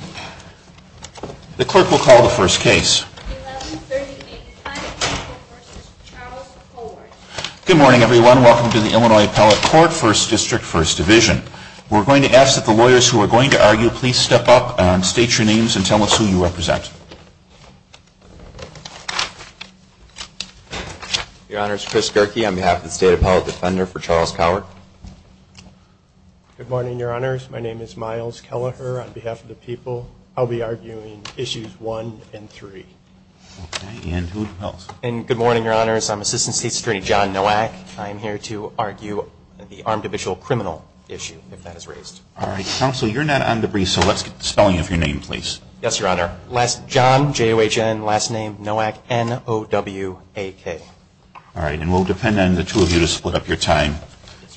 Good morning, everyone. Welcome to the Illinois Appellate Court, 1st District, 1st Division. We're going to ask that the lawyers who are going to argue please step up, state your names, and tell us who you represent. Your Honor, it's Chris Gerke on behalf of the State Appellate Defender for Charles Cowart. Good morning, Your Honors. My name is Myles Kelleher on behalf of the people. I'll be arguing issues 1 and 3. Good morning, Your Honors. I'm Assistant State Attorney John Nowak. I'm here to argue the armed official criminal issue, if that is raised. All right. Counsel, you're not on the brief, so let's get the spelling of your name, please. Yes, Your Honor. John, J-O-H-N, last name Nowak, N-O-W-A-K. All right. And we'll depend on the two of you to split up your time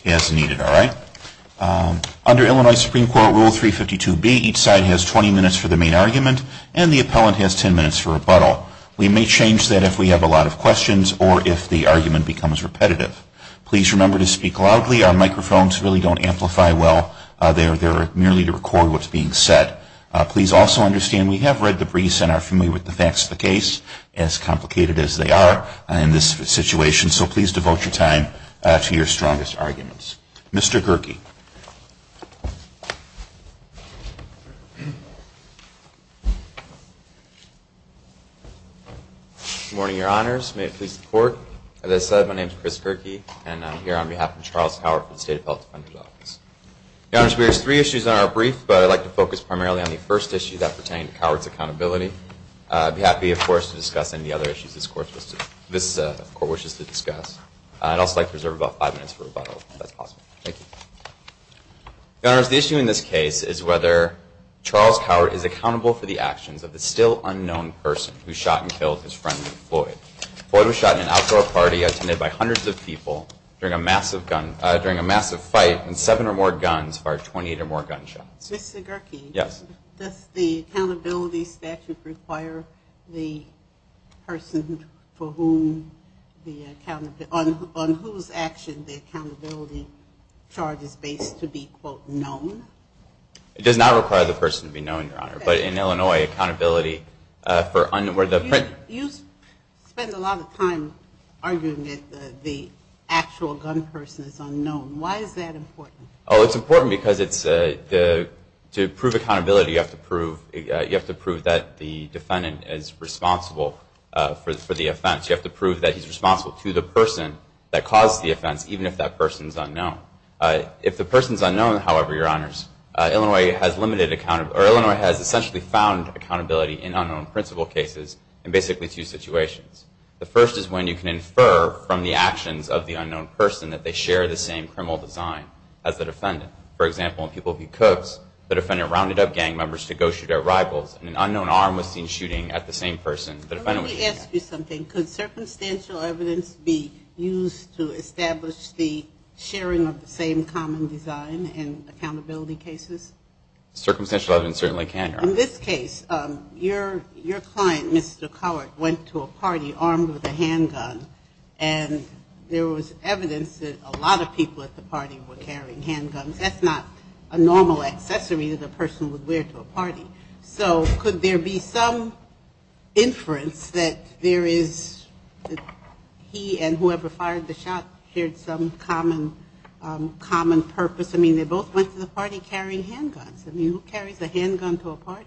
as needed, all right? Under Illinois Supreme Court Rule 352B, each side has 20 minutes for the main argument, and the appellant has 10 minutes for rebuttal. We may change that if we have a lot of questions or if the argument becomes repetitive. Please remember to speak loudly. Our microphones really don't amplify well. They're merely to record what's being said. Please also understand we have read the briefs and are familiar with the facts of the case, as complicated as they are in this situation, so please devote your time to your strongest arguments. Mr. Kierke. Good morning, Your Honors. May it please the Court. As I said, my name is Chris Kierke, and I'm here on behalf of Charles Cowart for the State Appellate Defender's Office. Your Honors, we raised three issues in our brief, but I'd like to focus primarily on the first issue that pertained to Cowart's accountability. I'd be happy, of course, to discuss any other issues this Court wishes to discuss. I'd also like to reserve about five minutes for rebuttal, if that's possible. Thank you. Your Honors, the issue in this case is whether Charles Cowart is accountable for the actions of the still-unknown person who shot and killed his friend, Floyd. Floyd was shot in an outdoor party attended by hundreds of people during a massive fight, and seven or more guns fired 28 or more gunshots. Mr. Kierke, does the accountability statute require the person on whose action the accountability charge is based to be, quote, known? It does not require the person to be known, Your Honor. But in Illinois, accountability for unknown... You spend a lot of time arguing that the actual gun person is unknown. Why is that important? Oh, it's important because to prove accountability, you have to prove that the defendant is responsible for the offense. You have to prove that he's responsible to the person that caused the offense, even if that person's unknown. If the person's unknown, however, Your Honors, Illinois has essentially found accountability in unknown principal cases in basically two situations. The first is when you can infer from the actions of the unknown person that they share the same criminal design as the rivals, and an unknown arm was seen shooting at the same person that a friend of his had. Let me ask you something. Could circumstantial evidence be used to establish the sharing of the same common design in accountability cases? Circumstantial evidence certainly can, Your Honor. In this case, your client, Mr. Cowart, went to a party armed with a handgun, and there was evidence that a lot of people at the party were carrying handguns. That's not a normal accessory that a person would wear to a party. So could there be some inference that there is, that he and whoever fired the shot shared some common purpose? I mean, they both went to the party carrying handguns. I mean, who carries a handgun to a party?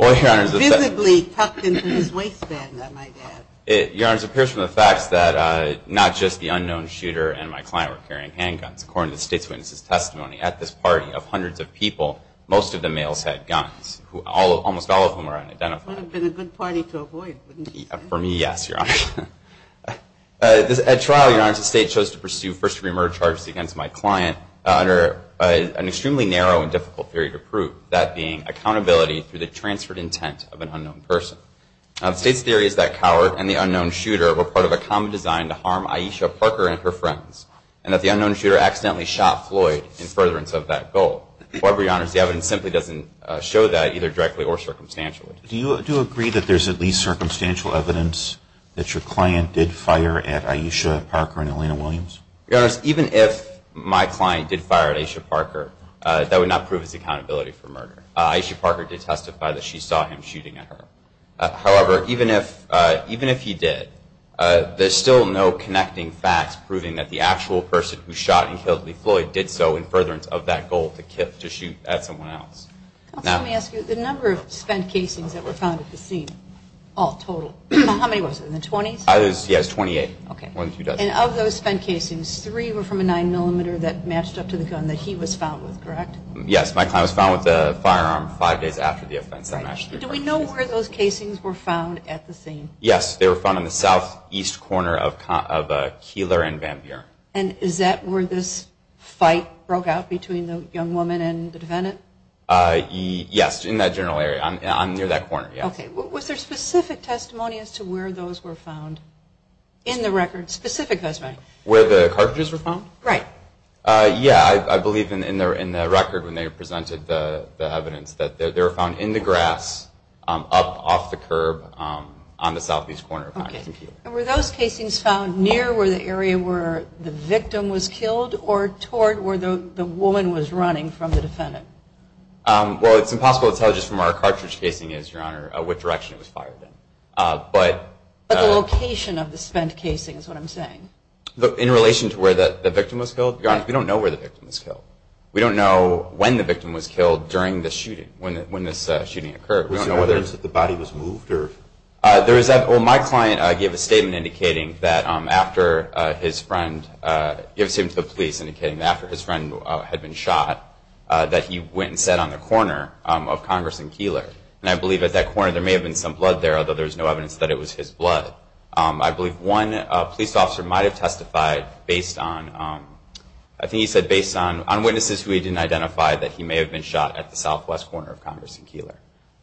Visibly tucked into his waistband, I might add. Your Honors, it appears from the facts that not just the unknown shooter and my client were carrying handguns. According to the state's witness's testimony, at this party of hundreds of people, most of the males had guns, almost all of whom were unidentified. That would have been a good party to avoid, wouldn't it? For me, yes, Your Honor. At trial, Your Honors, the state chose to pursue first-degree murder charges against my client under an extremely narrow and difficult theory to prove, that being accountability through the transferred intent of an unknown person. The state's theory is that Cowart and the unknown shooter were part of a common design to harm Aisha Parker and her friends, and that the unknown shooter accidentally shot Floyd in furtherance of that goal. However, Your Honors, the evidence simply doesn't show that, either directly or circumstantially. Do you agree that there's at least circumstantial evidence that your client did fire at Aisha Parker and Elena Williams? Your Honors, even if my client did fire at Aisha Parker, that would not prove his accountability for murder. Aisha Parker did testify that she saw him shooting at her. However, even if he did, there's still no connecting facts proving that the actual person who shot and killed Lee Floyd did so in furtherance of that goal to shoot at someone else. Counsel, let me ask you, the number of spent casings that were found at the scene, all total, how many was it, in the 20s? Yes, 28. And of those spent casings, three were from a 9mm that matched up to the gun that he was found with, correct? Yes, my client was found with a firearm five days after the offense. Do we know where those casings were found at the scene? Yes, they were found in the southeast corner of Keeler and Van Buren. And is that where this fight broke out between the young woman and the defendant? Yes, in that general area, near that corner, yes. Okay, was there specific testimony as to where those were found in the record, specific testimony? Where the cartridges were found? Right. Yeah, I believe in the record when they presented the evidence that they were found in the grass up off the curb on the southeast corner. Okay. And were those casings found near where the area where the victim was killed or toward where the woman was running from the defendant? Well, it's impossible to tell just from where a cartridge casing is, Your Honor, what direction it was fired in. But the location of the spent casing is what I'm saying. In relation to where the victim was killed? Your Honor, we don't know where the victim was killed. We don't know when the victim was killed during the shooting, when this shooting occurred. Was there evidence that the body was moved? Well, my client gave a statement indicating that after his friend, gave a statement to the police indicating that after his friend had been shot that he went and sat on the corner of Congress and Keeler. And I believe at that corner there may have been some blood there, although there was no evidence that it was his blood. I believe one police officer might have testified based on, I think he said based on witnesses who he didn't identify that he may have been shot at the southwest corner of Congress and Keeler.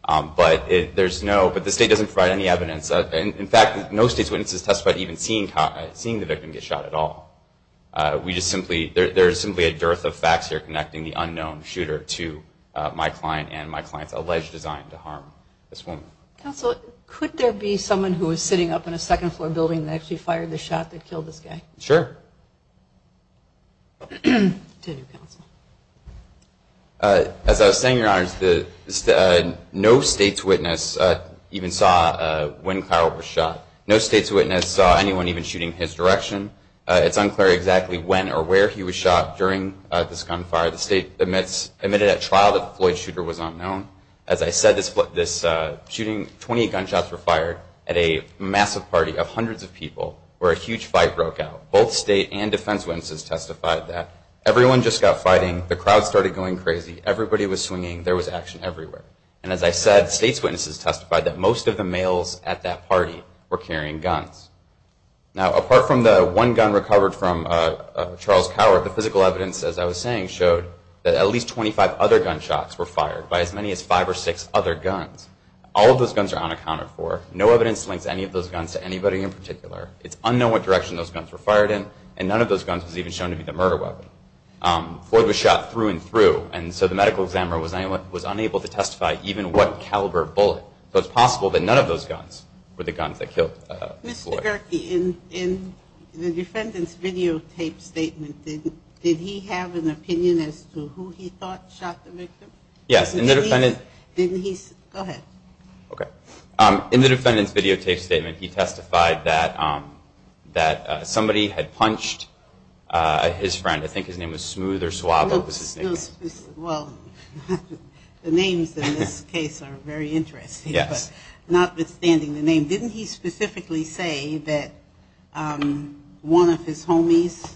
But there's no, but the state doesn't provide any evidence. In fact, no state's witnesses testified even seeing the victim get shot at all. We just simply, there's simply a dearth of facts here connecting the unknown shooter to my client and my client's alleged design to harm this woman. Counsel, could there be someone who was sitting up in a second floor building that actually fired the shot that killed this guy? Sure. As I was saying, Your Honors, no state's witness even saw when Carroll was shot. No state's witness saw anyone even shooting his direction. It's unclear exactly when or where he was shot during this gunfire. The state admitted at trial that the Floyd shooter was unknown. As I said, this shooting, 20 gunshots were fired at a massive party of hundreds of people where a huge fight broke out. Both state and defense witnesses testified that everyone just got fighting. The crowd started going crazy. Everybody was swinging. There was action everywhere. And as I said, state's witnesses testified that most of the males at that party were carrying guns. Now, apart from the one gun recovered from Charles Coward, the physical evidence, as I was saying, showed that at least 25 other gunshots were fired by as many as five or six other guns. All of those guns are unaccounted for. No evidence links any of those guns to anybody in particular. It's unknown what direction those guns were fired in. And none of those guns was even shown to be the murder weapon. Floyd was shot through and through. And so the medical examiner was unable to testify even what caliber bullet. So it's possible that none of those guns were the guns that killed Floyd. Mr. Gerke, in the defendant's videotape statement, did he have an opinion as to who he thought shot the victim? Yes. Didn't he? Go ahead. Okay. In the defendant's videotape statement, he testified that somebody had punched his friend. I think his name was Smooth or Suavo was his name. Well, the names in this case are very interesting. Yes. Notwithstanding the name, didn't he specifically say that one of his homies,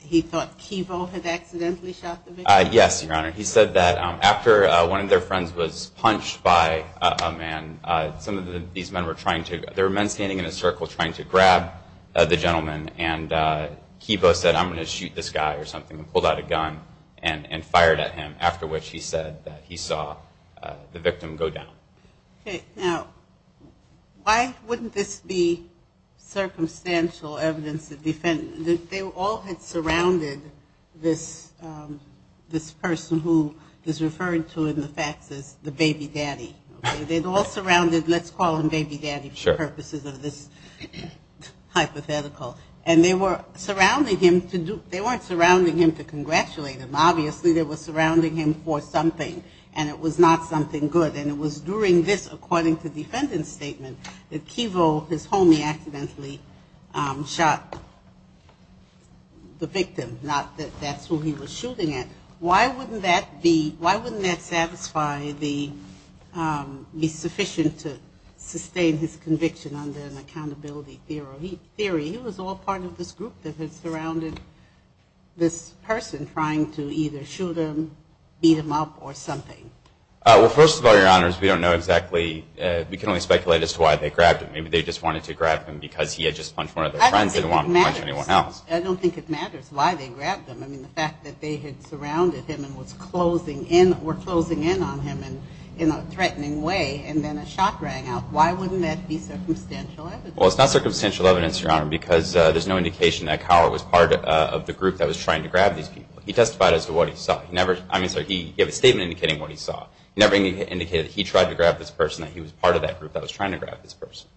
he thought Kivo had accidentally shot the victim? Yes, Your Honor. He said that after one of their friends was punched by a man, some of these men were trying to – there were men standing in a circle trying to grab the gentleman. And Kivo said, I'm going to shoot this guy or something and pulled out a gun and fired at him, after which he said that he saw the victim go down. Okay. Now, why wouldn't this be circumstantial evidence? They all had surrounded this person who is referred to in the facts as the baby daddy. They'd all surrounded – let's call him baby daddy for purposes of this hypothetical. And they were surrounding him to do – they weren't surrounding him to congratulate him. Obviously, they were surrounding him for something, and it was not something good. And it was during this, according to defendant's statement, that Kivo, his homie, accidentally shot the victim, not that that's who he was shooting at. Why wouldn't that be – why wouldn't that satisfy the – be sufficient to sustain his conviction under an accountability theory? He was all part of this group that had surrounded this person trying to either shoot him, beat him up, or something. Well, first of all, Your Honors, we don't know exactly – we can only speculate as to why they grabbed him. Maybe they just wanted to grab him because he had just punched one of their friends. I don't think it matters. They didn't want him to punch anyone else. I don't think it matters why they grabbed him. I mean, the fact that they had surrounded him and were closing in on him in a threatening way, and then a shot rang out, why wouldn't that be circumstantial evidence? Well, it's not circumstantial evidence, Your Honor, because there's no indication that Cowart was part of the group that was trying to grab these people. He testified as to what he saw. He never – I mean, so he gave a statement indicating what he saw. He never indicated that he tried to grab this person, that he was part of that group that was trying to grab this person.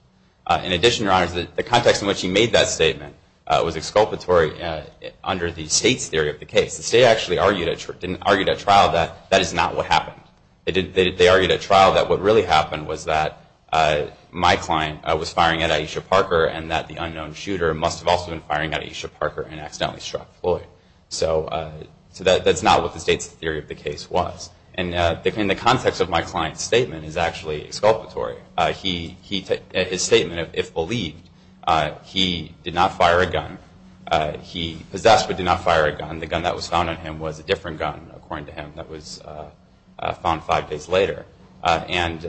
In addition, Your Honors, the context in which he made that statement was exculpatory under the state's theory of the case. The state actually argued at trial that that is not what happened. They argued at trial that what really happened was that my client was firing at Aisha Parker and that the unknown shooter must have also been firing at Aisha Parker and accidentally struck Floyd. So that's not what the state's theory of the case was. And in the context of my client's statement is actually exculpatory. His statement, if believed, he did not fire a gun. He possessed but did not fire a gun. And the gun that was found on him was a different gun, according to him, that was found five days later. And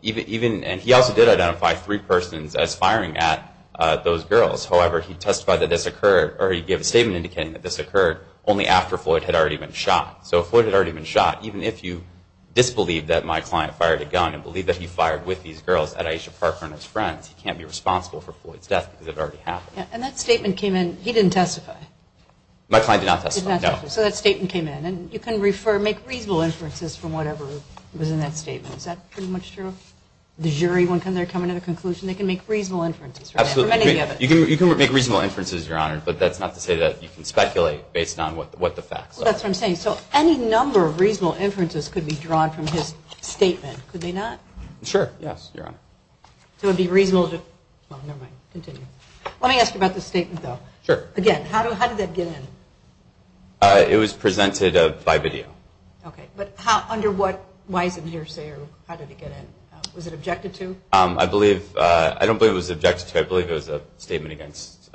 he also did identify three persons as firing at those girls. However, he testified that this occurred – or he gave a statement indicating that this occurred only after Floyd had already been shot. So if Floyd had already been shot, even if you disbelieve that my client fired a gun and believe that he fired with these girls at Aisha Parker and his friends, he can't be responsible for Floyd's death because it already happened. And that statement came in – he didn't testify. My client did not testify, no. So that statement came in. And you can refer – make reasonable inferences from whatever was in that statement. Is that pretty much true? The jury, when they're coming to the conclusion, they can make reasonable inferences, right? Absolutely. For many of them. You can make reasonable inferences, Your Honor, but that's not to say that you can speculate based on what the facts are. Well, that's what I'm saying. So any number of reasonable inferences could be drawn from his statement, could they not? Sure, yes, Your Honor. So it would be reasonable to – well, never mind, continue. Let me ask you about the statement, though. Sure. Again, how did that get in? It was presented by video. Okay. But under what – why is it in here, say, or how did it get in? Was it objected to? I believe – I don't believe it was objected to. I believe it was a statement against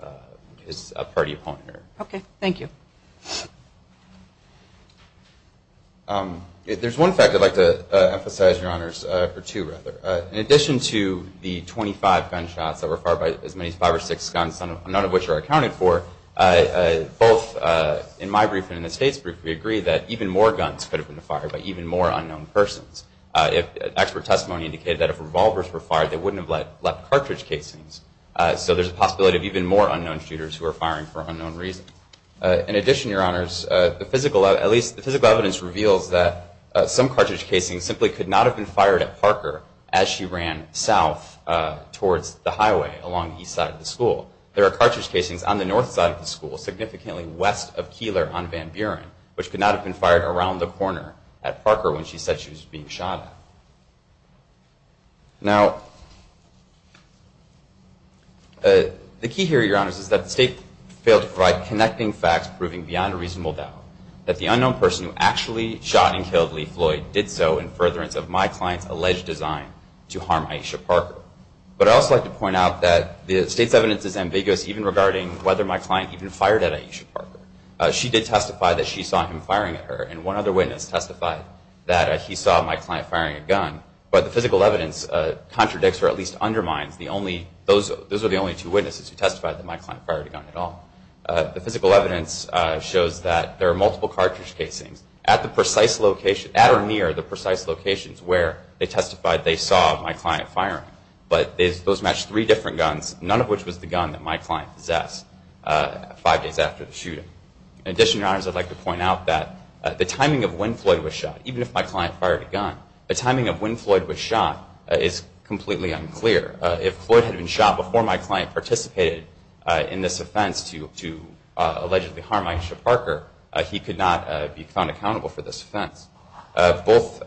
his party opponent. Okay. Thank you. There's one fact I'd like to emphasize, Your Honors – or two, rather. In addition to the 25 gunshots that were fired by as many as five or six guns, none of which are accounted for, both in my brief and in the State's brief, we agree that even more guns could have been fired by even more unknown persons. Expert testimony indicated that if revolvers were fired, they wouldn't have left cartridge casings. So there's a possibility of even more unknown shooters who are firing for unknown reasons. In addition, Your Honors, the physical – at least the physical evidence reveals that some cartridge casings simply could not have been fired at Parker as she ran south towards the highway along the east side of the school. There are cartridge casings on the north side of the school, significantly west of Keeler on Van Buren, which could not have been fired around the corner at Parker when she said she was being shot at. Now, the key here, Your Honors, is that the State failed to provide connecting facts proving beyond a reasonable doubt that the unknown person who actually shot and killed Lee Floyd did so in furtherance of my client's alleged design to harm Aisha Parker. But I'd also like to point out that the State's evidence is ambiguous, even regarding whether my client even fired at Aisha Parker. She did testify that she saw him firing at her, and one other witness testified that he saw my client firing a gun. But the physical evidence contradicts or at least undermines the only – those are the only two witnesses who testified that my client fired a gun at all. The physical evidence shows that there are multiple cartridge casings at the precise location – at or near the precise locations where they testified they saw my client firing. But those match three different guns, none of which was the gun that my client possessed five days after the shooting. In addition, Your Honors, I'd like to point out that the timing of when Floyd was shot, even if my client fired a gun, the timing of when Floyd was shot is completely unclear. If Floyd had been shot before my client participated in this offense to allegedly harm Aisha Parker, he could not be found accountable for this offense. Both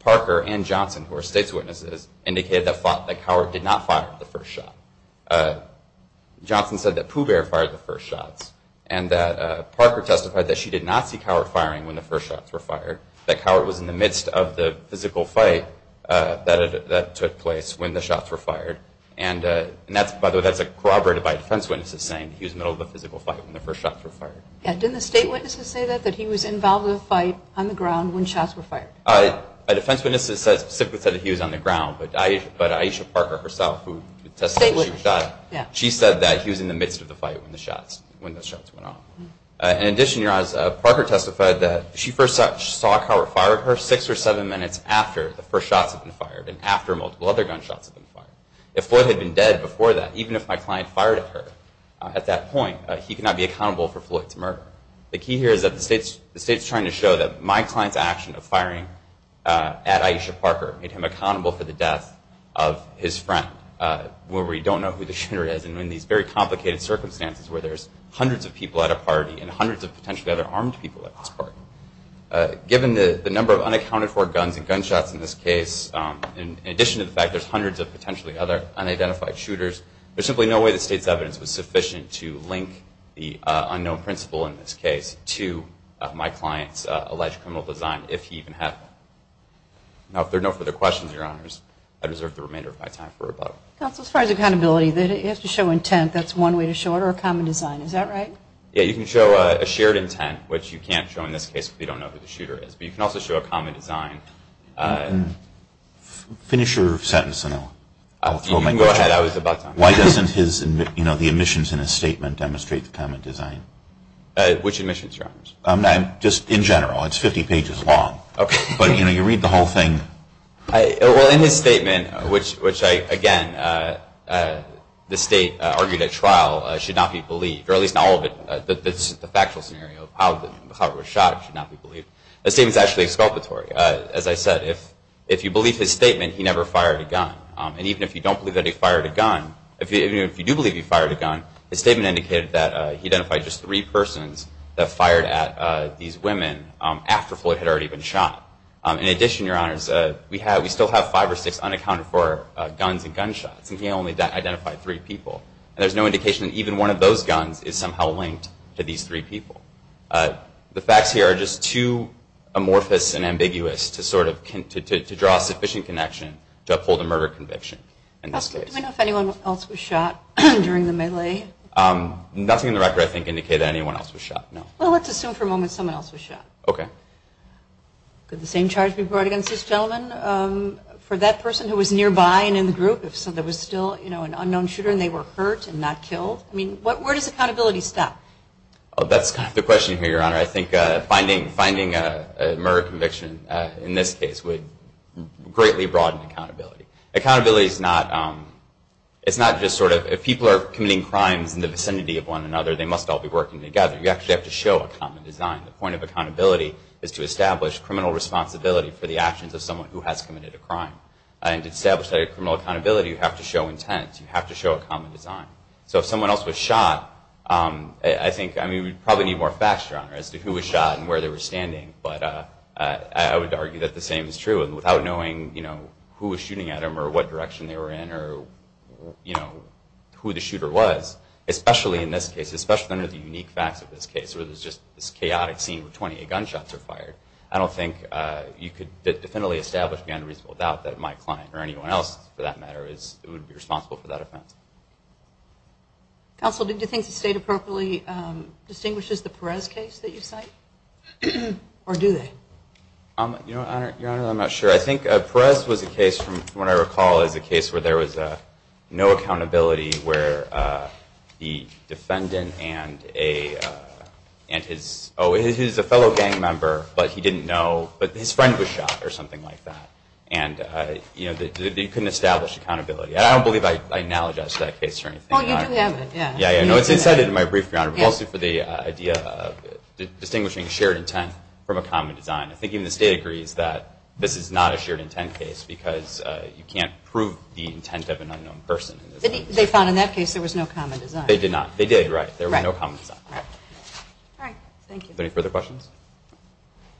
Parker and Johnson, who are State's witnesses, indicated that Cowart did not fire the first shot. Johnson said that Pooh Bear fired the first shots, and that Parker testified that she did not see Cowart firing when the first shots were fired, that Cowart was in the midst of the physical fight that took place when the shots were fired. And that's – by the way, that's corroborated by defense witnesses saying he was in the middle of a physical fight when the first shots were fired. Didn't the State witnesses say that, that he was involved in a fight on the ground when shots were fired? A defense witness specifically said that he was on the ground, but Aisha Parker herself, who testified that she was shot, she said that he was in the midst of the fight when the shots went off. In addition, as Parker testified, that she first saw Cowart fire at her six or seven minutes after the first shots had been fired, and after multiple other gunshots had been fired. If Floyd had been dead before that, even if my client fired at her at that point, he could not be accountable for Floyd's murder. The key here is that the State's trying to show that my client's action of firing at Aisha Parker made him accountable for the death of his friend. Where we don't know who the shooter is, and in these very complicated circumstances where there's hundreds of people at a party, and hundreds of potentially other armed people at this party, given the number of unaccounted for guns and gunshots in this case, in addition to the fact there's hundreds of potentially other unidentified shooters, there's simply no way the State's evidence was sufficient to link the unknown principal in this case to my client's alleged criminal design, if he even had one. Now, if there are no further questions, Your Honors, I deserve the remainder of my time for rebuttal. Counsel, as far as accountability, you have to show intent. That's one way to show it, or a common design. Is that right? Yeah, you can show a shared intent, which you can't show in this case if you don't know who the shooter is, but you can also show a common design. Finish your sentence, and I'll throw my question. You can go ahead. I was about to. Why doesn't the omissions in his statement demonstrate the common design? Which omissions, Your Honors? Just in general. It's 50 pages long. Okay. But you read the whole thing. Well, in his statement, which, again, the State argued at trial should not be believed, or at least not all of it, the factual scenario of how it was shot should not be believed. The statement's actually exculpatory. As I said, if you believe his statement, he never fired a gun. And even if you don't believe that he fired a gun, even if you do believe he fired a gun, his statement indicated that he identified just three persons that fired at these women after Floyd had already been shot. In addition, Your Honors, we still have five or six unaccounted for guns and gunshots, and he only identified three people. And there's no indication that even one of those guns is somehow linked to these three people. The facts here are just too amorphous and ambiguous to sort of draw a sufficient connection to uphold a murder conviction in this case. Do we know if anyone else was shot during the melee? Nothing in the record, I think, indicates that anyone else was shot, no. Well, let's assume for a moment someone else was shot. Okay. Could the same charge be brought against this gentleman? For that person who was nearby and in the group, if there was still an unknown shooter and they were hurt and not killed? Where does accountability stop? That's kind of the question here, Your Honor. I think finding a murder conviction in this case would greatly broaden accountability. Accountability is not just sort of if people are committing crimes in the vicinity of one another, they must all be working together. You actually have to show a common design. The point of accountability is to establish criminal responsibility for the actions of someone who has committed a crime. And to establish that criminal accountability, you have to show intent. You have to show a common design. So if someone else was shot, I think, I mean, we probably need more facts, Your Honor, as to who was shot and where they were standing. But I would argue that the same is true. And without knowing, you know, who was shooting at them or what direction they were in or, you know, who the shooter was, especially in this case, especially under the unique facts of this case where there's just this chaotic scene where 28 gunshots were fired, I don't think you could definitively establish beyond a reasonable doubt that my client or anyone else, for that matter, would be responsible for that offense. Counsel, do you think the State appropriately distinguishes the Perez case that you cite? Or do they? You know, Your Honor, I'm not sure. I think Perez was a case from what I recall as a case where there was no accountability where the defendant and his fellow gang member, but he didn't know, but his friend was shot or something like that. And, you know, you couldn't establish accountability. I don't believe I analogize to that case or anything. Well, you do have it, yeah. Yeah, I know it's incited in my brief, Your Honor, but mostly for the idea of distinguishing shared intent from a common design. I think even the State agrees that this is not a shared intent case because you can't prove the intent of an unknown person. They found in that case there was no common design. They did not. They did, right. There was no common design. All right. Thank you. Are there any further questions?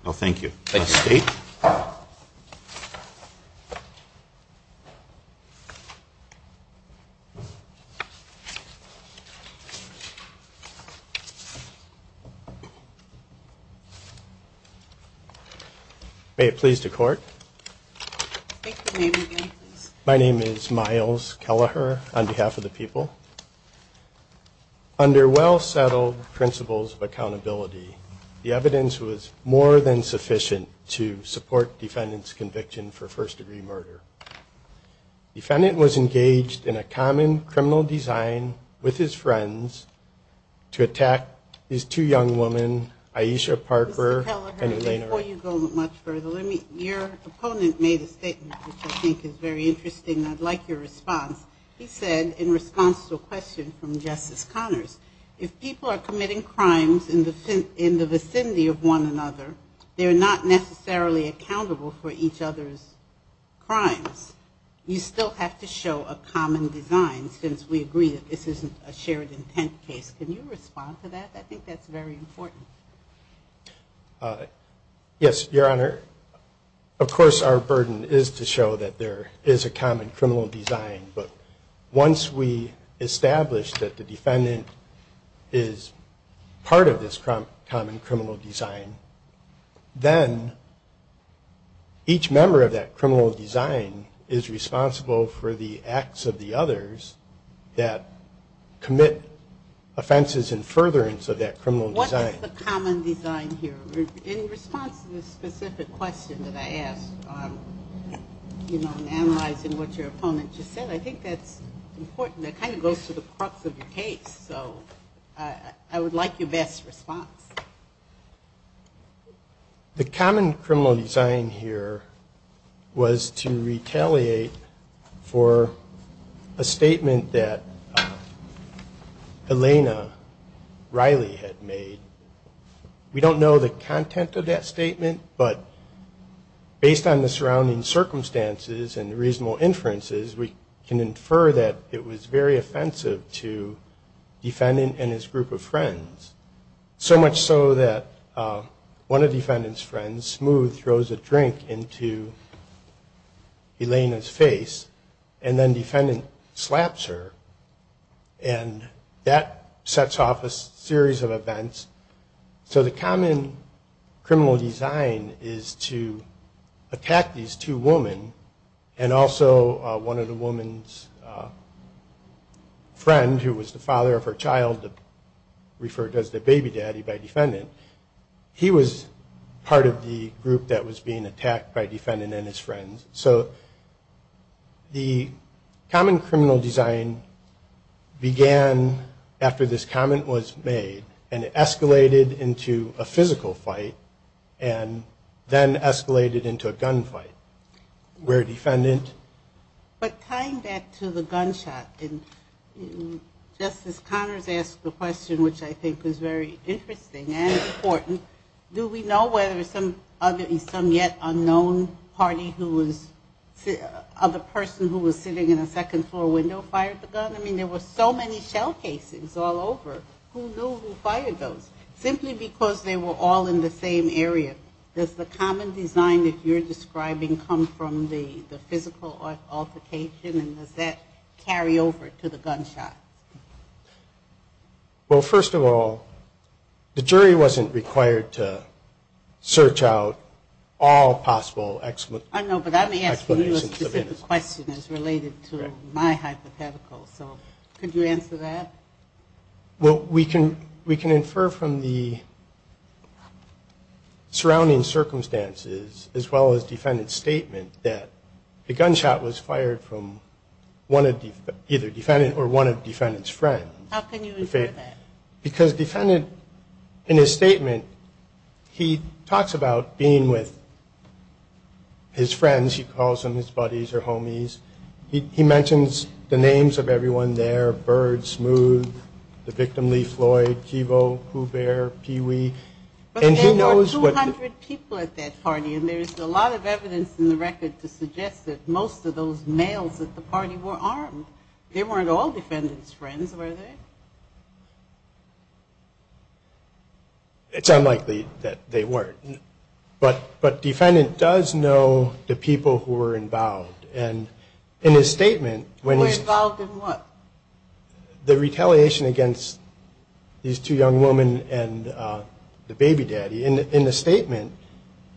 No, thank you. Thank you. All right. May it please the Court. My name is Miles Kelleher on behalf of the people. Under well-settled principles of accountability, the evidence was more than sufficient to support defendant's conviction for first-degree murder. Defendant was engaged in a common criminal design with his friends to attack these two young women, Aisha Parker and Elena Ray. Mr. Kelleher, before you go much further, your opponent made a statement which I think is very interesting. I'd like your response. He said, in response to a question from Justice Connors, if people are committing crimes in the vicinity of one another, they're not necessarily accountable for each other's crimes. You still have to show a common design, since we agree that this isn't a shared intent case. Can you respond to that? I think that's very important. Yes, Your Honor. Of course, our burden is to show that there is a common criminal design. But once we establish that the defendant is part of this common criminal design, then each member of that criminal design is responsible for the acts of the others that commit offenses in furtherance of that criminal design. What is the common design here? In response to the specific question that I asked, you know, in analyzing what your opponent just said, I think that's important. That kind of goes to the crux of your case. So I would like your best response. The common criminal design here was to retaliate for a statement that Elena Riley had made. We don't know the content of that statement, but based on the surrounding circumstances and reasonable inferences, we can infer that it was very offensive to the defendant and his group of friends. So much so that one of the defendant's friends, Smooth, throws a drink into Elena's face, and then the defendant slaps her. And that sets off a series of events. So the common criminal design is to attack these two women, and also one of the woman's friends, who was the father of her child, referred to as the baby daddy by defendant. He was part of the group that was being attacked by defendant and his friends. So the common criminal design began after this comment was made, and it escalated into a physical fight, and then escalated into a gunfight, where defendant... But tying back to the gunshot, and Justice Connors asked the question, which I think was very interesting and important, do we know whether some other, some yet unknown party who was, of a person who was sitting in a second floor window fired the gun? I mean, there were so many shell casings all over. Who knew who fired those? Simply because they were all in the same area. Does the common design that you're describing come from the physical altercation, and does that carry over to the gunshot? Well, first of all, the jury wasn't required to search out all possible explanations. I know, but I'm asking you a specific question as related to my hypothetical. So could you answer that? Well, we can infer from the surrounding circumstances, as well as defendant's statement, that the gunshot was fired from either defendant or one of defendant's friends. How can you infer that? Because defendant, in his statement, he talks about being with his friends, he calls them his buddies or homies. He mentions the names of everyone there, Bird, Smooth, the victim, Lee Floyd, Kivo, Hubert, Peewee. But there were 200 people at that party, and there's a lot of evidence in the record to suggest that most of those males at the party were armed. They weren't all defendant's friends, were they? It's unlikely that they weren't. But defendant does know the people who were involved. Were involved in what? The retaliation against these two young women and the baby daddy. In the statement,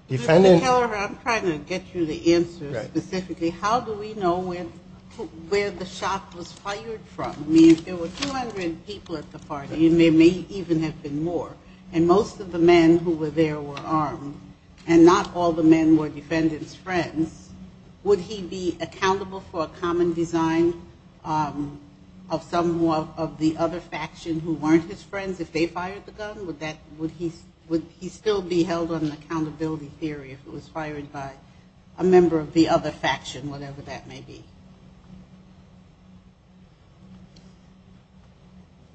defendant... Mr. Keller, I'm trying to get you the answer specifically. How do we know where the shot was fired from? I mean, there were 200 people at the party, and there may even have been more. And most of the men who were there were armed, and not all the men were defendant's friends. Would he be accountable for a common design of some of the other faction who weren't his friends if they fired the gun? Would he still be held on accountability theory if it was fired by a member of the other faction, whatever that may be?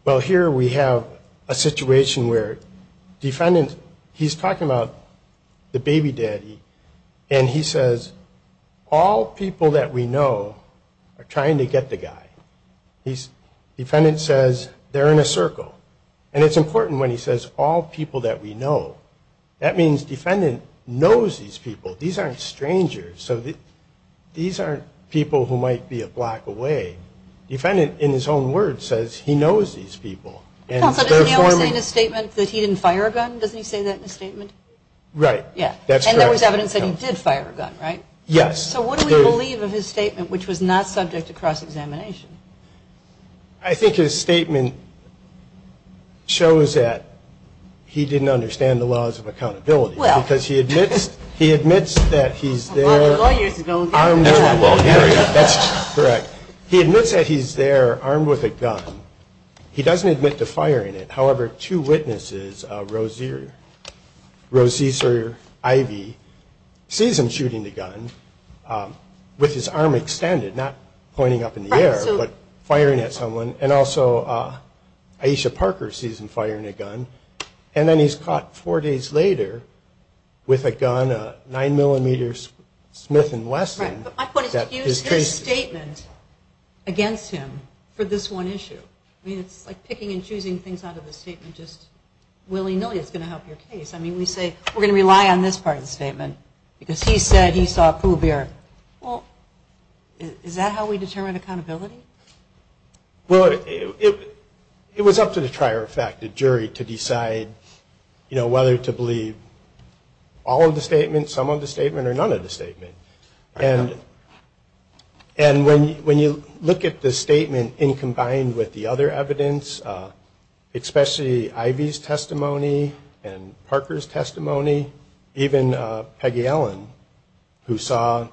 Well, here we have a situation where defendant, he's talking about the baby daddy, and he says, all people that we know are trying to get the guy. Defendant says, they're in a circle. And it's important when he says, all people that we know. That means defendant knows these people. These aren't strangers. So these aren't people who might be a block away. Defendant, in his own words, says he knows these people. Counselor, doesn't he always say in his statement that he didn't fire a gun? Doesn't he say that in his statement? Right. Yeah. And there was evidence that he did fire a gun, right? Yes. So what do we believe of his statement, which was not subject to cross-examination? I think his statement shows that he didn't understand the laws of accountability. Well. Because he admits that he's there armed with a gun. That's correct. He admits that he's there armed with a gun. He doesn't admit to firing it. Rose Caesar, Ivy, sees him shooting the gun with his arm extended, not pointing up in the air, but firing at someone. And also Aisha Parker sees him firing a gun. And then he's caught four days later with a gun, a 9mm Smith & Wesson. Right. But my point is, use his statement against him for this one issue. I mean, it's like picking and choosing things out of a statement just willy-nilly. It's going to help your case. I mean, we say we're going to rely on this part of the statement, because he said he saw a pool of beer. Well, is that how we determine accountability? Well, it was up to the trier of fact, the jury, to decide, you know, whether to believe all of the statements, some of the statement, or none of the statement. And when you look at the statement, and combined with the other evidence, especially Ivy's testimony, and Parker's testimony, even Peggy Ellen, who saw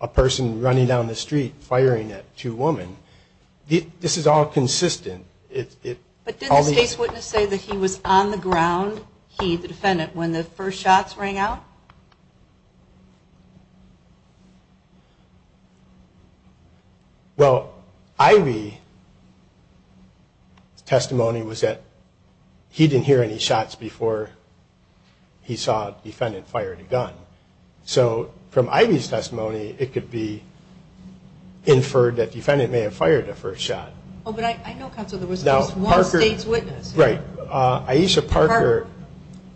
a person running down the street, firing at two women, this is all consistent. But didn't the case witness say that he was on the ground, he, the defendant, when the first shots rang out? Well, Ivy's testimony was that he didn't hear any shots before he saw the defendant fire the gun. So, from Ivy's testimony, it could be inferred that the defendant may have fired the first shot. Oh, but I know, Counselor, there was at least one state's witness. Right. Aisha Parker,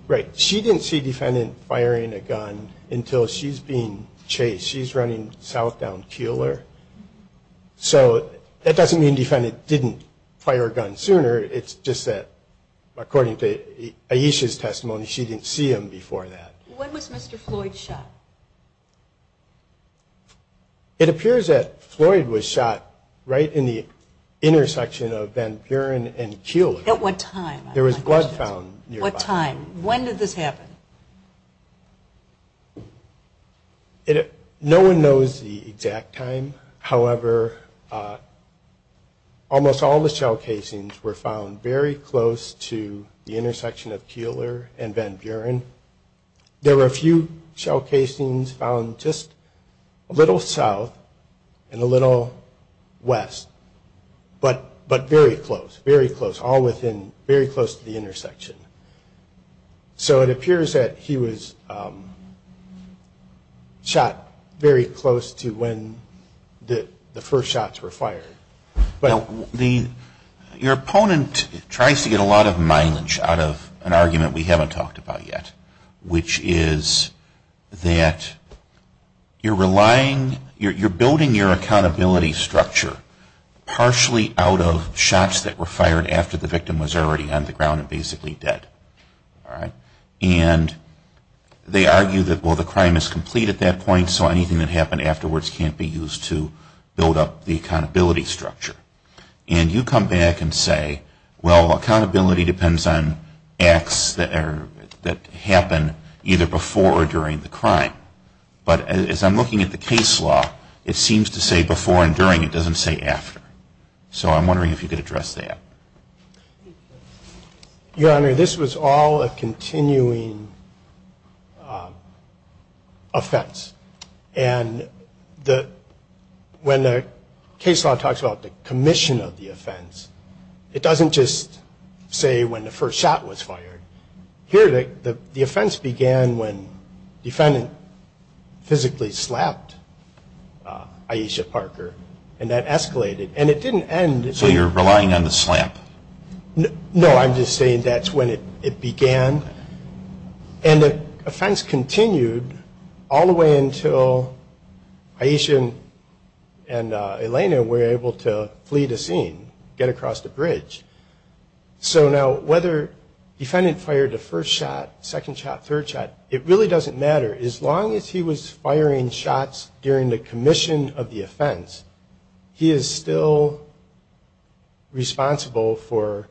right, she didn't see defendant firing a gun. until she's being chased. She's running south down Keeler. So, that doesn't mean defendant didn't fire a gun sooner, it's just that, according to Aisha's testimony, she didn't see him before that. When was Mr. Floyd shot? It appears that Floyd was shot right in the intersection of Van Buren and Keeler. At what time? There was blood found nearby. What time? When did this happen? No one knows the exact time. However, almost all the shell casings were found very close to the intersection of Keeler and Van Buren. There were a few shell casings found just a little south and a little west, but very close, very close, all within, very close to the intersection. So, it appears that he was shot very close to when the first shots were fired. Now, the, your opponent tries to get a lot of mileage out of an argument we haven't talked about yet, which is that you're relying, you're building your accountability structure partially out of shots that were fired after the victim was already on the ground and basically dead. All right? And they argue that, well, the crime is complete at that point, so anything that happened afterwards can't be used to build up the accountability structure. And you come back and say, well, accountability depends on acts that are, that happen either before or during the crime. But as I'm looking at the case law, it seems to say before and during. It doesn't say after. So I'm wondering if you could address that. Your Honor, this was all a continuing offense. And the, when the case law talks about the commission of the offense, it doesn't just say when the first shot was fired. Here, the offense began when the defendant physically slapped Aisha Parker, and that escalated. And it didn't end. So you're relying on the slap? No, I'm just saying that's when it began. And the offense continued all the way until Aisha and Elena were able to flee the scene, get across the bridge. So now, whether the defendant fired the first shot, second shot, third shot, it really doesn't matter. As long as he was firing shots during the commission of the offense, he is still responsible for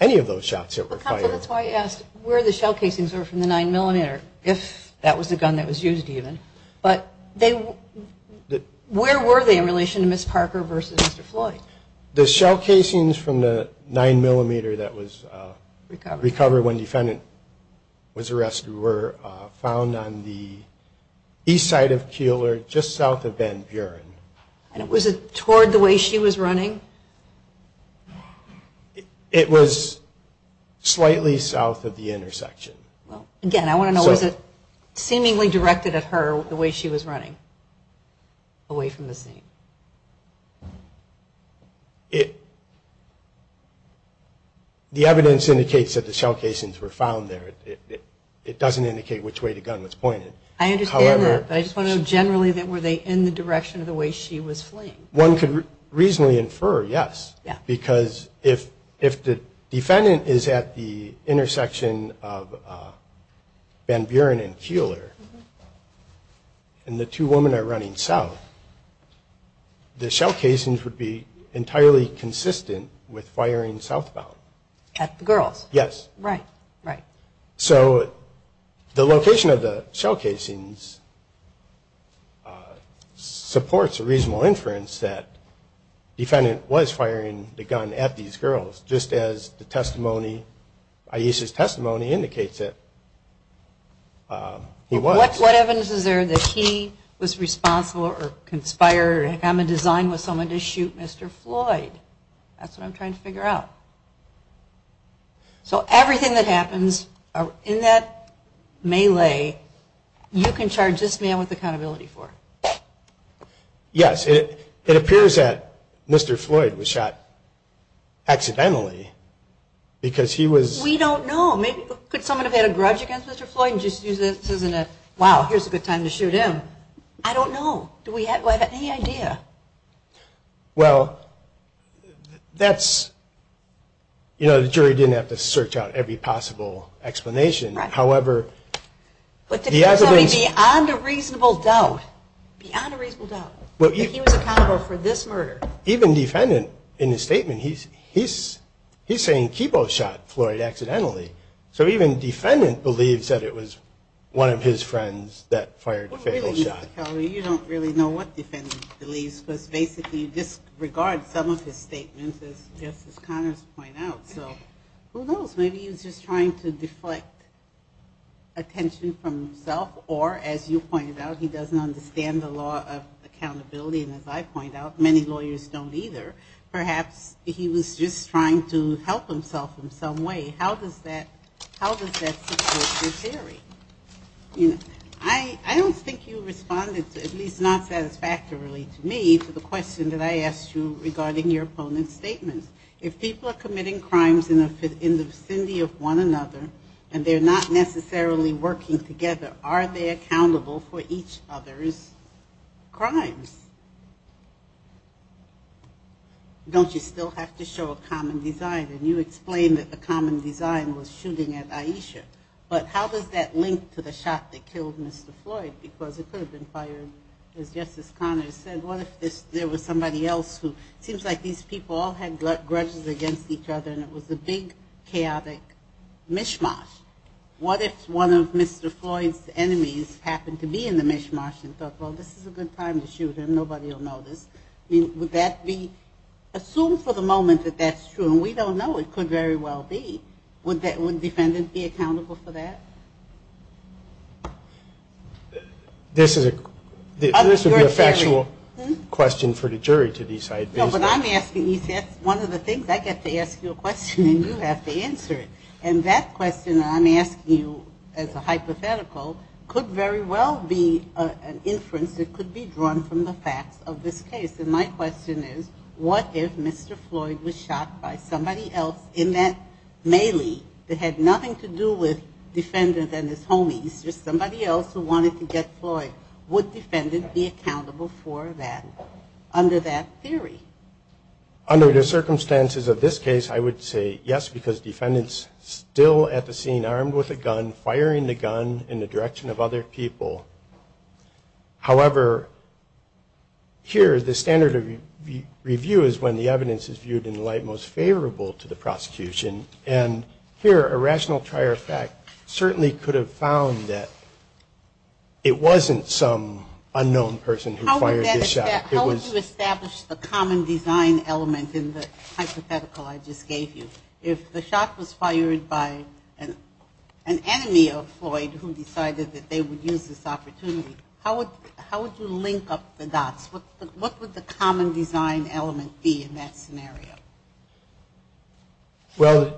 any of those shots that were fired. That's why I asked where the shell casings were from the 9mm, if that was a gun that was used even. But where were they in relation to Ms. Parker versus Mr. Floyd? The shell casings from the 9mm that was recovered when the defendant was shot were found on the east side of Keeler, just south of Van Buren. And was it toward the way she was running? It was slightly south of the intersection. Again, I want to know, was it seemingly directed at her the way she was running, away from the scene? The evidence indicates that the shell casings were found there. It doesn't indicate which way the gun was pointed. I understand that, but I just want to know generally, were they in the direction of the way she was fleeing? One could reasonably infer yes, because if the defendant is at the intersection of Van Buren and Keeler, and the two women are running south, the shell casings would be entirely consistent with firing southbound. At the girls? Yes. Right. Right. So the location of the shell casings supports a reasonable inference that the defendant was firing the gun at these girls, just as the testimony, Ayesha's testimony, indicates that he was. What evidence is there that he was responsible or conspired, had a design with someone to shoot Mr. Floyd? That's what I'm trying to figure out. So everything that happens in that melee, you can charge this man with accountability for? Yes. It appears that Mr. Floyd was shot accidentally because he was. We don't know. Could someone have had a grudge against Mr. Floyd and just used it, wow, here's a good time to shoot him? I don't know. Do we have any idea? Well, that's, you know, the jury didn't have to search out every possible explanation. However, the evidence. Beyond a reasonable doubt, beyond a reasonable doubt, that he was accountable for this murder. Even defendant, in his statement, he's saying Kibo shot Floyd accidentally. So even defendant believes that it was one of his friends that fired the fatal shot. Kelly, you don't really know what defendant believes, because basically you disregard some of his statements, as Justice Connors pointed out. So who knows? Maybe he was just trying to deflect attention from himself, or as you pointed out, he doesn't understand the law of accountability. And as I point out, many lawyers don't either. Perhaps he was just trying to help himself in some way. How does that support your theory? I don't think you responded, at least not satisfactorily to me, to the question that I asked you regarding your opponent's statement. If people are committing crimes in the vicinity of one another, and they're not necessarily working together, are they accountable for each other's crimes? Don't you still have to show a common design? And you explained that the common design was shooting at Aisha. But how does that link to the shot that killed Mr. Floyd? Because it could have been fired, as Justice Connors said. What if there was somebody else who seems like these people all had grudges against each other, and it was a big, chaotic mishmash? What if one of Mr. Floyd's enemies happened to be in the mishmash and thought, well, this is a good time to shoot him, nobody will notice? I mean, would that be assumed for the moment that that's true? And we don't know. It could very well be. Would the defendant be accountable for that? This would be a factual question for the jury to decide. No, but I'm asking you. That's one of the things. I get to ask you a question, and you have to answer it. And that question I'm asking you as a hypothetical could very well be an inference that could be drawn from the facts of this case. And my question is, what if Mr. Floyd was shot by somebody else in that melee that had nothing to do with Defendant and his homies, just somebody else who wanted to get Floyd? Would Defendant be accountable for that under that theory? Under the circumstances of this case, I would say yes, because Defendant's still at the scene armed with a gun, firing the gun in the direction of other people. However, here the standard of review is when the evidence is viewed in the light most favorable to the prosecution. And here a rational trier of fact certainly could have found that it wasn't some unknown person who fired this shot. How would you establish the common design element in the hypothetical I just gave you? If the shot was fired by an enemy of Floyd who decided that they would use this opportunity, how would you link up the dots? What would the common design element be in that scenario? Well,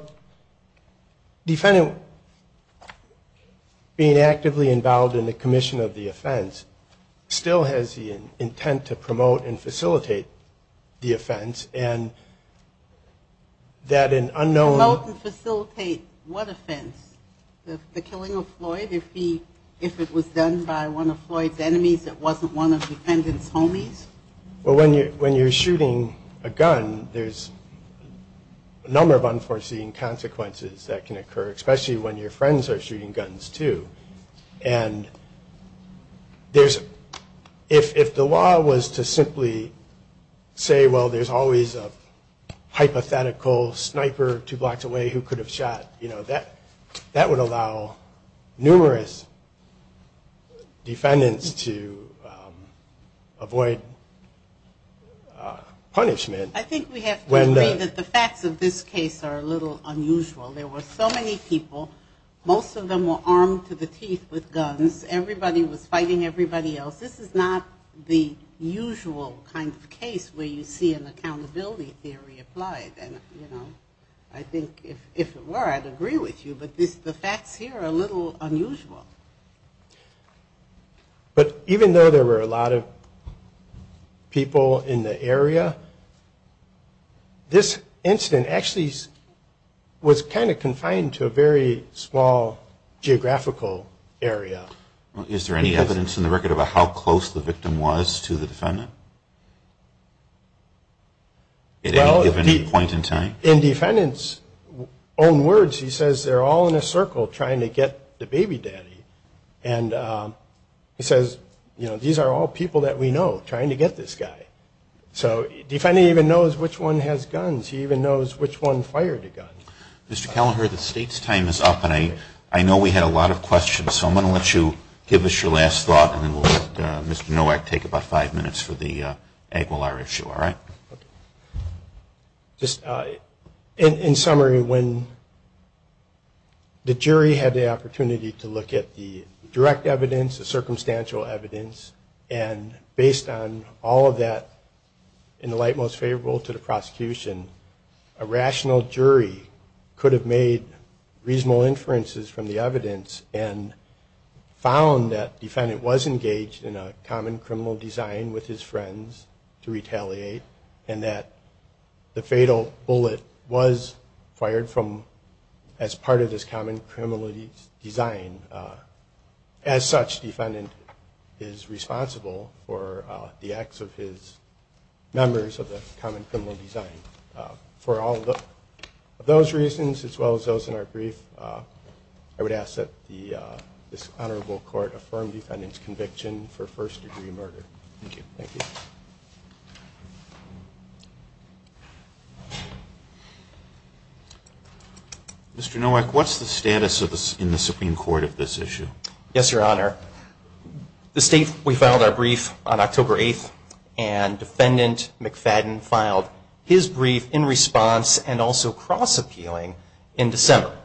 Defendant being actively involved in the commission of the offense still has the intent to promote and facilitate the offense. Promote and facilitate what offense? The killing of Floyd? If it was done by one of Floyd's enemies that wasn't one of Defendant's homies? Well, when you're shooting a gun, there's a number of unforeseen consequences that can occur, especially when your friends are shooting guns, too. And if the law was to simply say, well, there's always a hypothetical sniper two blocks away who could have shot, you know, that would allow numerous defendants to avoid punishment. I think we have to agree that the facts of this case are a little unusual. There were so many people. Most of them were armed to the teeth with guns. Everybody was fighting everybody else. This is not the usual kind of case where you see an accountability theory applied. And, you know, I think if it were, I'd agree with you, but the facts here are a little unusual. But even though there were a lot of people in the area, this incident actually was kind of confined to a very small geographical area. Is there any evidence in the record about how close the victim was to the defendant at any given point in time? In defendants' own words, he says they're all in a circle trying to get the baby daddy. And he says, you know, these are all people that we know trying to get this guy. So the defendant even knows which one has guns. He even knows which one fired the gun. Mr. Kelleher, the State's time is up, and I know we had a lot of questions, so I'm going to let you give us your last thought, and then we'll let Mr. Nowak take about five minutes for the Aguilar issue, all right? Okay. Just in summary, when the jury had the opportunity to look at the direct evidence, the circumstantial evidence, and based on all of that in the light most favorable to the prosecution, a rational jury could have made reasonable inferences from the evidence and found that the defendant was engaged in a common criminal design with his friends to retaliate and that the fatal bullet was fired as part of this common criminal design. As such, the defendant is responsible for the acts of his members of the common criminal design. For all of those reasons, as well as those in our brief, I would ask that this honorable court affirm defendant's conviction for first-degree murder. Thank you. Thank you. Mr. Nowak, what's the status in the Supreme Court of this issue? Yes, Your Honor. The State, we filed our brief on October 8th, and Defendant McFadden filed his brief in response and also cross-appealing in December.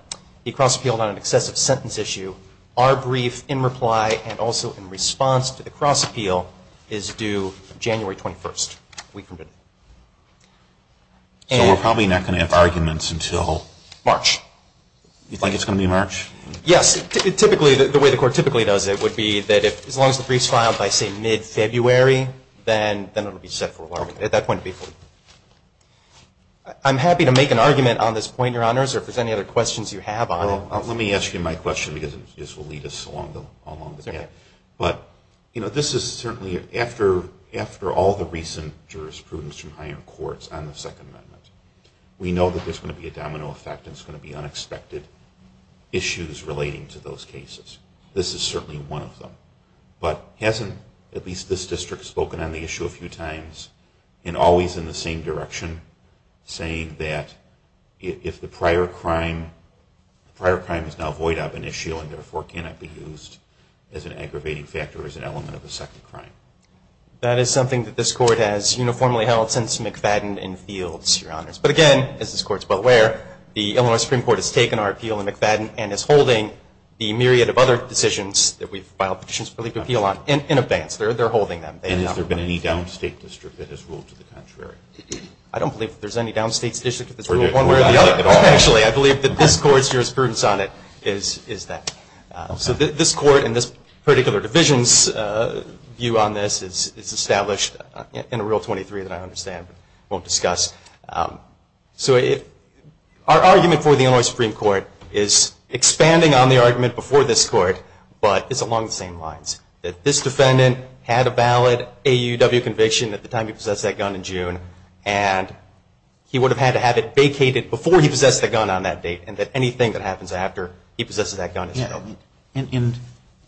He cross-appealed on an excessive sentence issue. Our brief in reply and also in response to the cross-appeal is due January 21st, a week from today. So we're probably not going to have arguments until? March. You think it's going to be March? Yes. Typically, the way the court typically does it would be that as long as the brief's filed by, say, mid-February, then it will be set for alarm at that point. I'm happy to make an argument on this point, Your Honors, or if there's any other questions you have on it. Well, let me ask you my question because this will lead us along the path. But, you know, this is certainly after all the recent jurisprudence from higher courts on the Second Amendment. We know that there's going to be a domino effect and it's going to be unexpected issues relating to those cases. This is certainly one of them. But hasn't at least this district spoken on the issue a few times and always in the same direction, saying that if the prior crime is now void of an issue and, therefore, cannot be used as an aggravating factor as an element of a second crime? That is something that this court has uniformly held since McFadden and Fields, Your Honors. But, again, as this court's well aware, the Illinois Supreme Court has taken our appeal in McFadden and is holding the myriad of other decisions that we've filed petitions for legal appeal on in advance. They're holding them. And has there been any downstate district that has ruled to the contrary? I don't believe there's any downstate district that's ruled one way or the other. Actually, I believe that this court's jurisprudence on it is that. So this court and this particular division's view on this is established in a Rule 23 that I understand but won't discuss. So our argument for the Illinois Supreme Court is expanding on the argument before this court, but it's along the same lines. That this defendant had a valid AUW conviction at the time he possessed that gun in June and he would have had to have it vacated before he possessed the gun on that date and that anything that happens after he possesses that gun is broken. And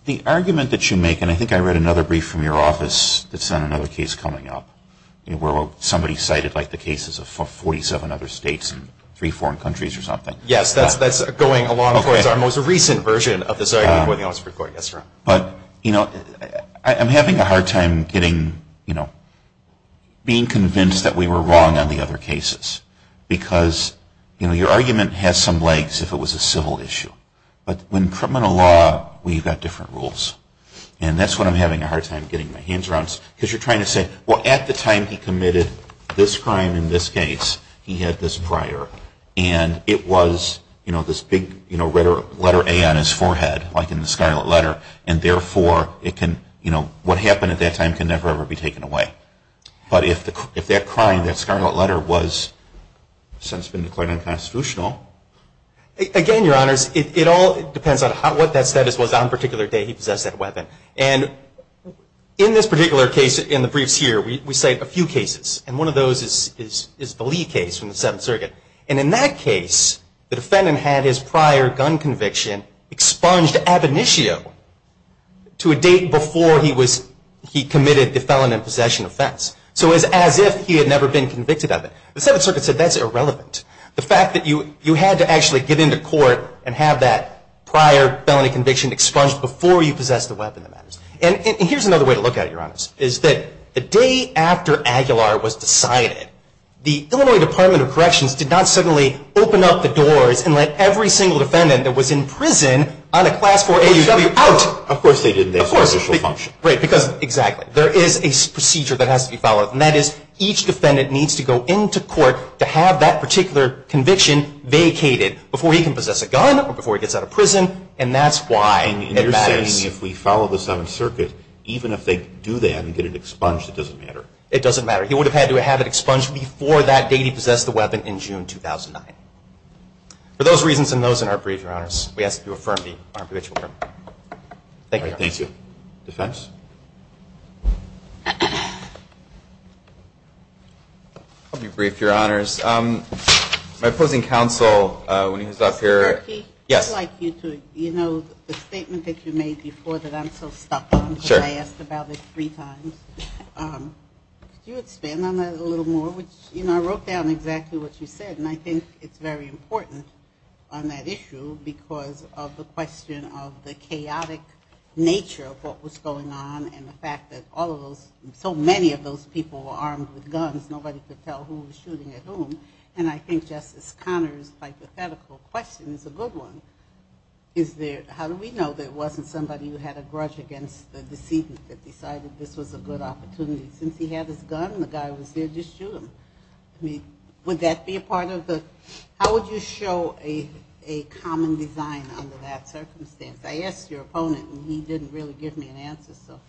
the argument that you make, and I think I read another brief from your office that's on another case coming up, where somebody cited the cases of 47 other states and three foreign countries or something. Yes, that's going along towards our most recent version of this argument for the Illinois Supreme Court. Yes, sir. But, you know, I'm having a hard time getting, you know, being convinced that we were wrong on the other cases because, you know, your argument has some legs if it was a civil issue. But in criminal law, we've got different rules. And that's what I'm having a hard time getting my hands around. Because you're trying to say, well, at the time he committed this crime in this case, he had this prior. And it was, you know, this big, you know, letter A on his forehead, like in the scarlet letter, and therefore it can, you know, what happened at that time can never ever be taken away. But if that crime, that scarlet letter, has since been declared unconstitutional. Again, Your Honors, it all depends on what that status was on the particular day he possessed that weapon. And in this particular case, in the briefs here, we cite a few cases. And one of those is the Lee case from the Seventh Circuit. And in that case, the defendant had his prior gun conviction expunged ab initio to a date before he committed the felon and possession offense. So it was as if he had never been convicted of it. The Seventh Circuit said that's irrelevant. The fact that you had to actually get into court and have that prior felony conviction expunged before you possessed the weapon. And here's another way to look at it, Your Honors, is that the day after Aguilar was decided, the Illinois Department of Corrections did not suddenly open up the doors and let every single defendant that was in prison on a class 4 AUW out. Of course they didn't. Of course. Right, because exactly. There is a procedure that has to be followed. And that is each defendant needs to go into court to have that particular conviction vacated before he can possess a gun or before he gets out of prison. And that's why it matters. And you're saying if we follow the Seventh Circuit, even if they do that and get it expunged, it doesn't matter? It doesn't matter. He would have had to have it expunged before that day he possessed the weapon in June 2009. For those reasons and those in our briefs, Your Honors, we ask that you affirm the arbitration. Thank you. Thank you. Defense? I'll be brief, Your Honors. My opposing counsel, when he was up here. Mr. Kierkegaard? Yes. I'd like you to, you know, the statement that you made before that I'm so stuck on, because I asked about it three times. Could you expand on that a little more? You know, I wrote down exactly what you said, and I think it's very important on that issue because of the question of the chaotic nature of what was going on and the fact that all of those, so many of those people were armed with guns, nobody could tell who was shooting at whom. And I think Justice Conner's hypothetical question is a good one. Is there, how do we know there wasn't somebody who had a grudge against the decedent that decided this was a good opportunity? Since he had his gun and the guy was there, just shoot him. Would that be a part of the, how would you show a common design under that circumstance? I asked your opponent, and he didn't really give me an answer. So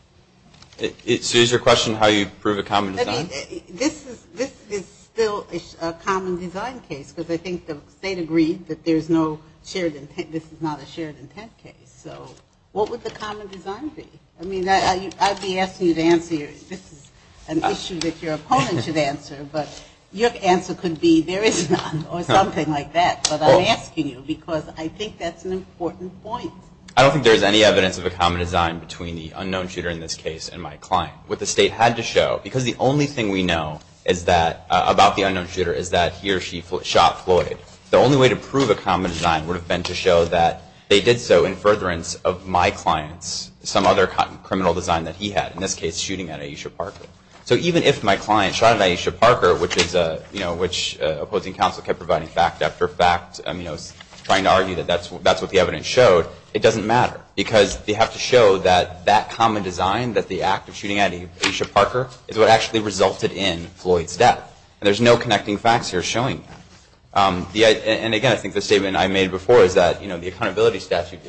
is your question how you prove a common design? This is still a common design case, because I think the State agreed that there's no shared intent, this is not a shared intent case. So what would the common design be? I mean, I'd be asking you to answer your, this is an issue that your opponent should answer, but your answer could be there is none or something like that. But I'm asking you because I think that's an important point. I don't think there's any evidence of a common design between the unknown shooter in this case and my client. What the State had to show, because the only thing we know is that, about the unknown shooter, is that he or she shot Floyd. The only way to prove a common design would have been to show that they did so in furtherance of my clients, some other criminal design that he had, in this case, shooting at Aisha Parker. So even if my client shot at Aisha Parker, which opposing counsel kept providing fact after fact, trying to argue that that's what the evidence showed, it doesn't matter. Because they have to show that that common design, that the act of shooting at Aisha Parker, is what actually resulted in Floyd's death. And there's no connecting facts here showing that. And again, I think the statement I made before is that the accountability statute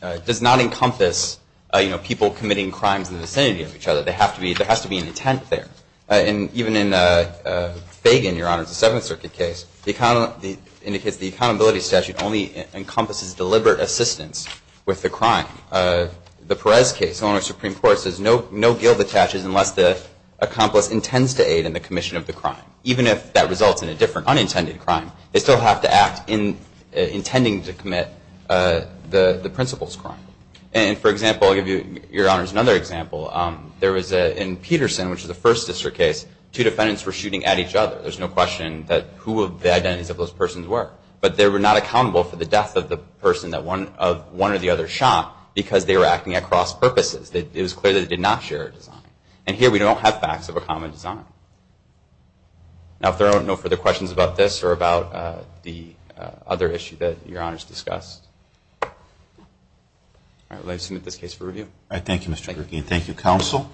does not encompass people committing crimes in the vicinity of each other. There has to be an intent there. And even in Fagan, Your Honor, the Seventh Circuit case, it indicates the accountability statute only encompasses deliberate assistance with the crime. The Perez case, the owner of the Supreme Court, says no guilt attaches unless the accomplice intends to aid in the commission of the crime. Even if that results in a different unintended crime, they still have to act intending to commit the principal's crime. And, for example, I'll give Your Honors another example. There was in Peterson, which is a First District case, two defendants were shooting at each other. There's no question that who the identities of those persons were. But they were not accountable for the death of the person that one or the other shot because they were acting at cross purposes. It was clear that they did not share a design. And here we don't have facts of a common design. Now, if there are no further questions about this or about the other issue that Your Honors discussed, I would like to submit this case for review. All right. Thank you, Mr. Gurkein. Thank you, Counsel.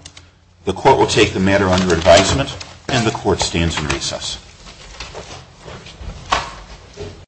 The Court will take the matter under advisement. And the Court stands in recess.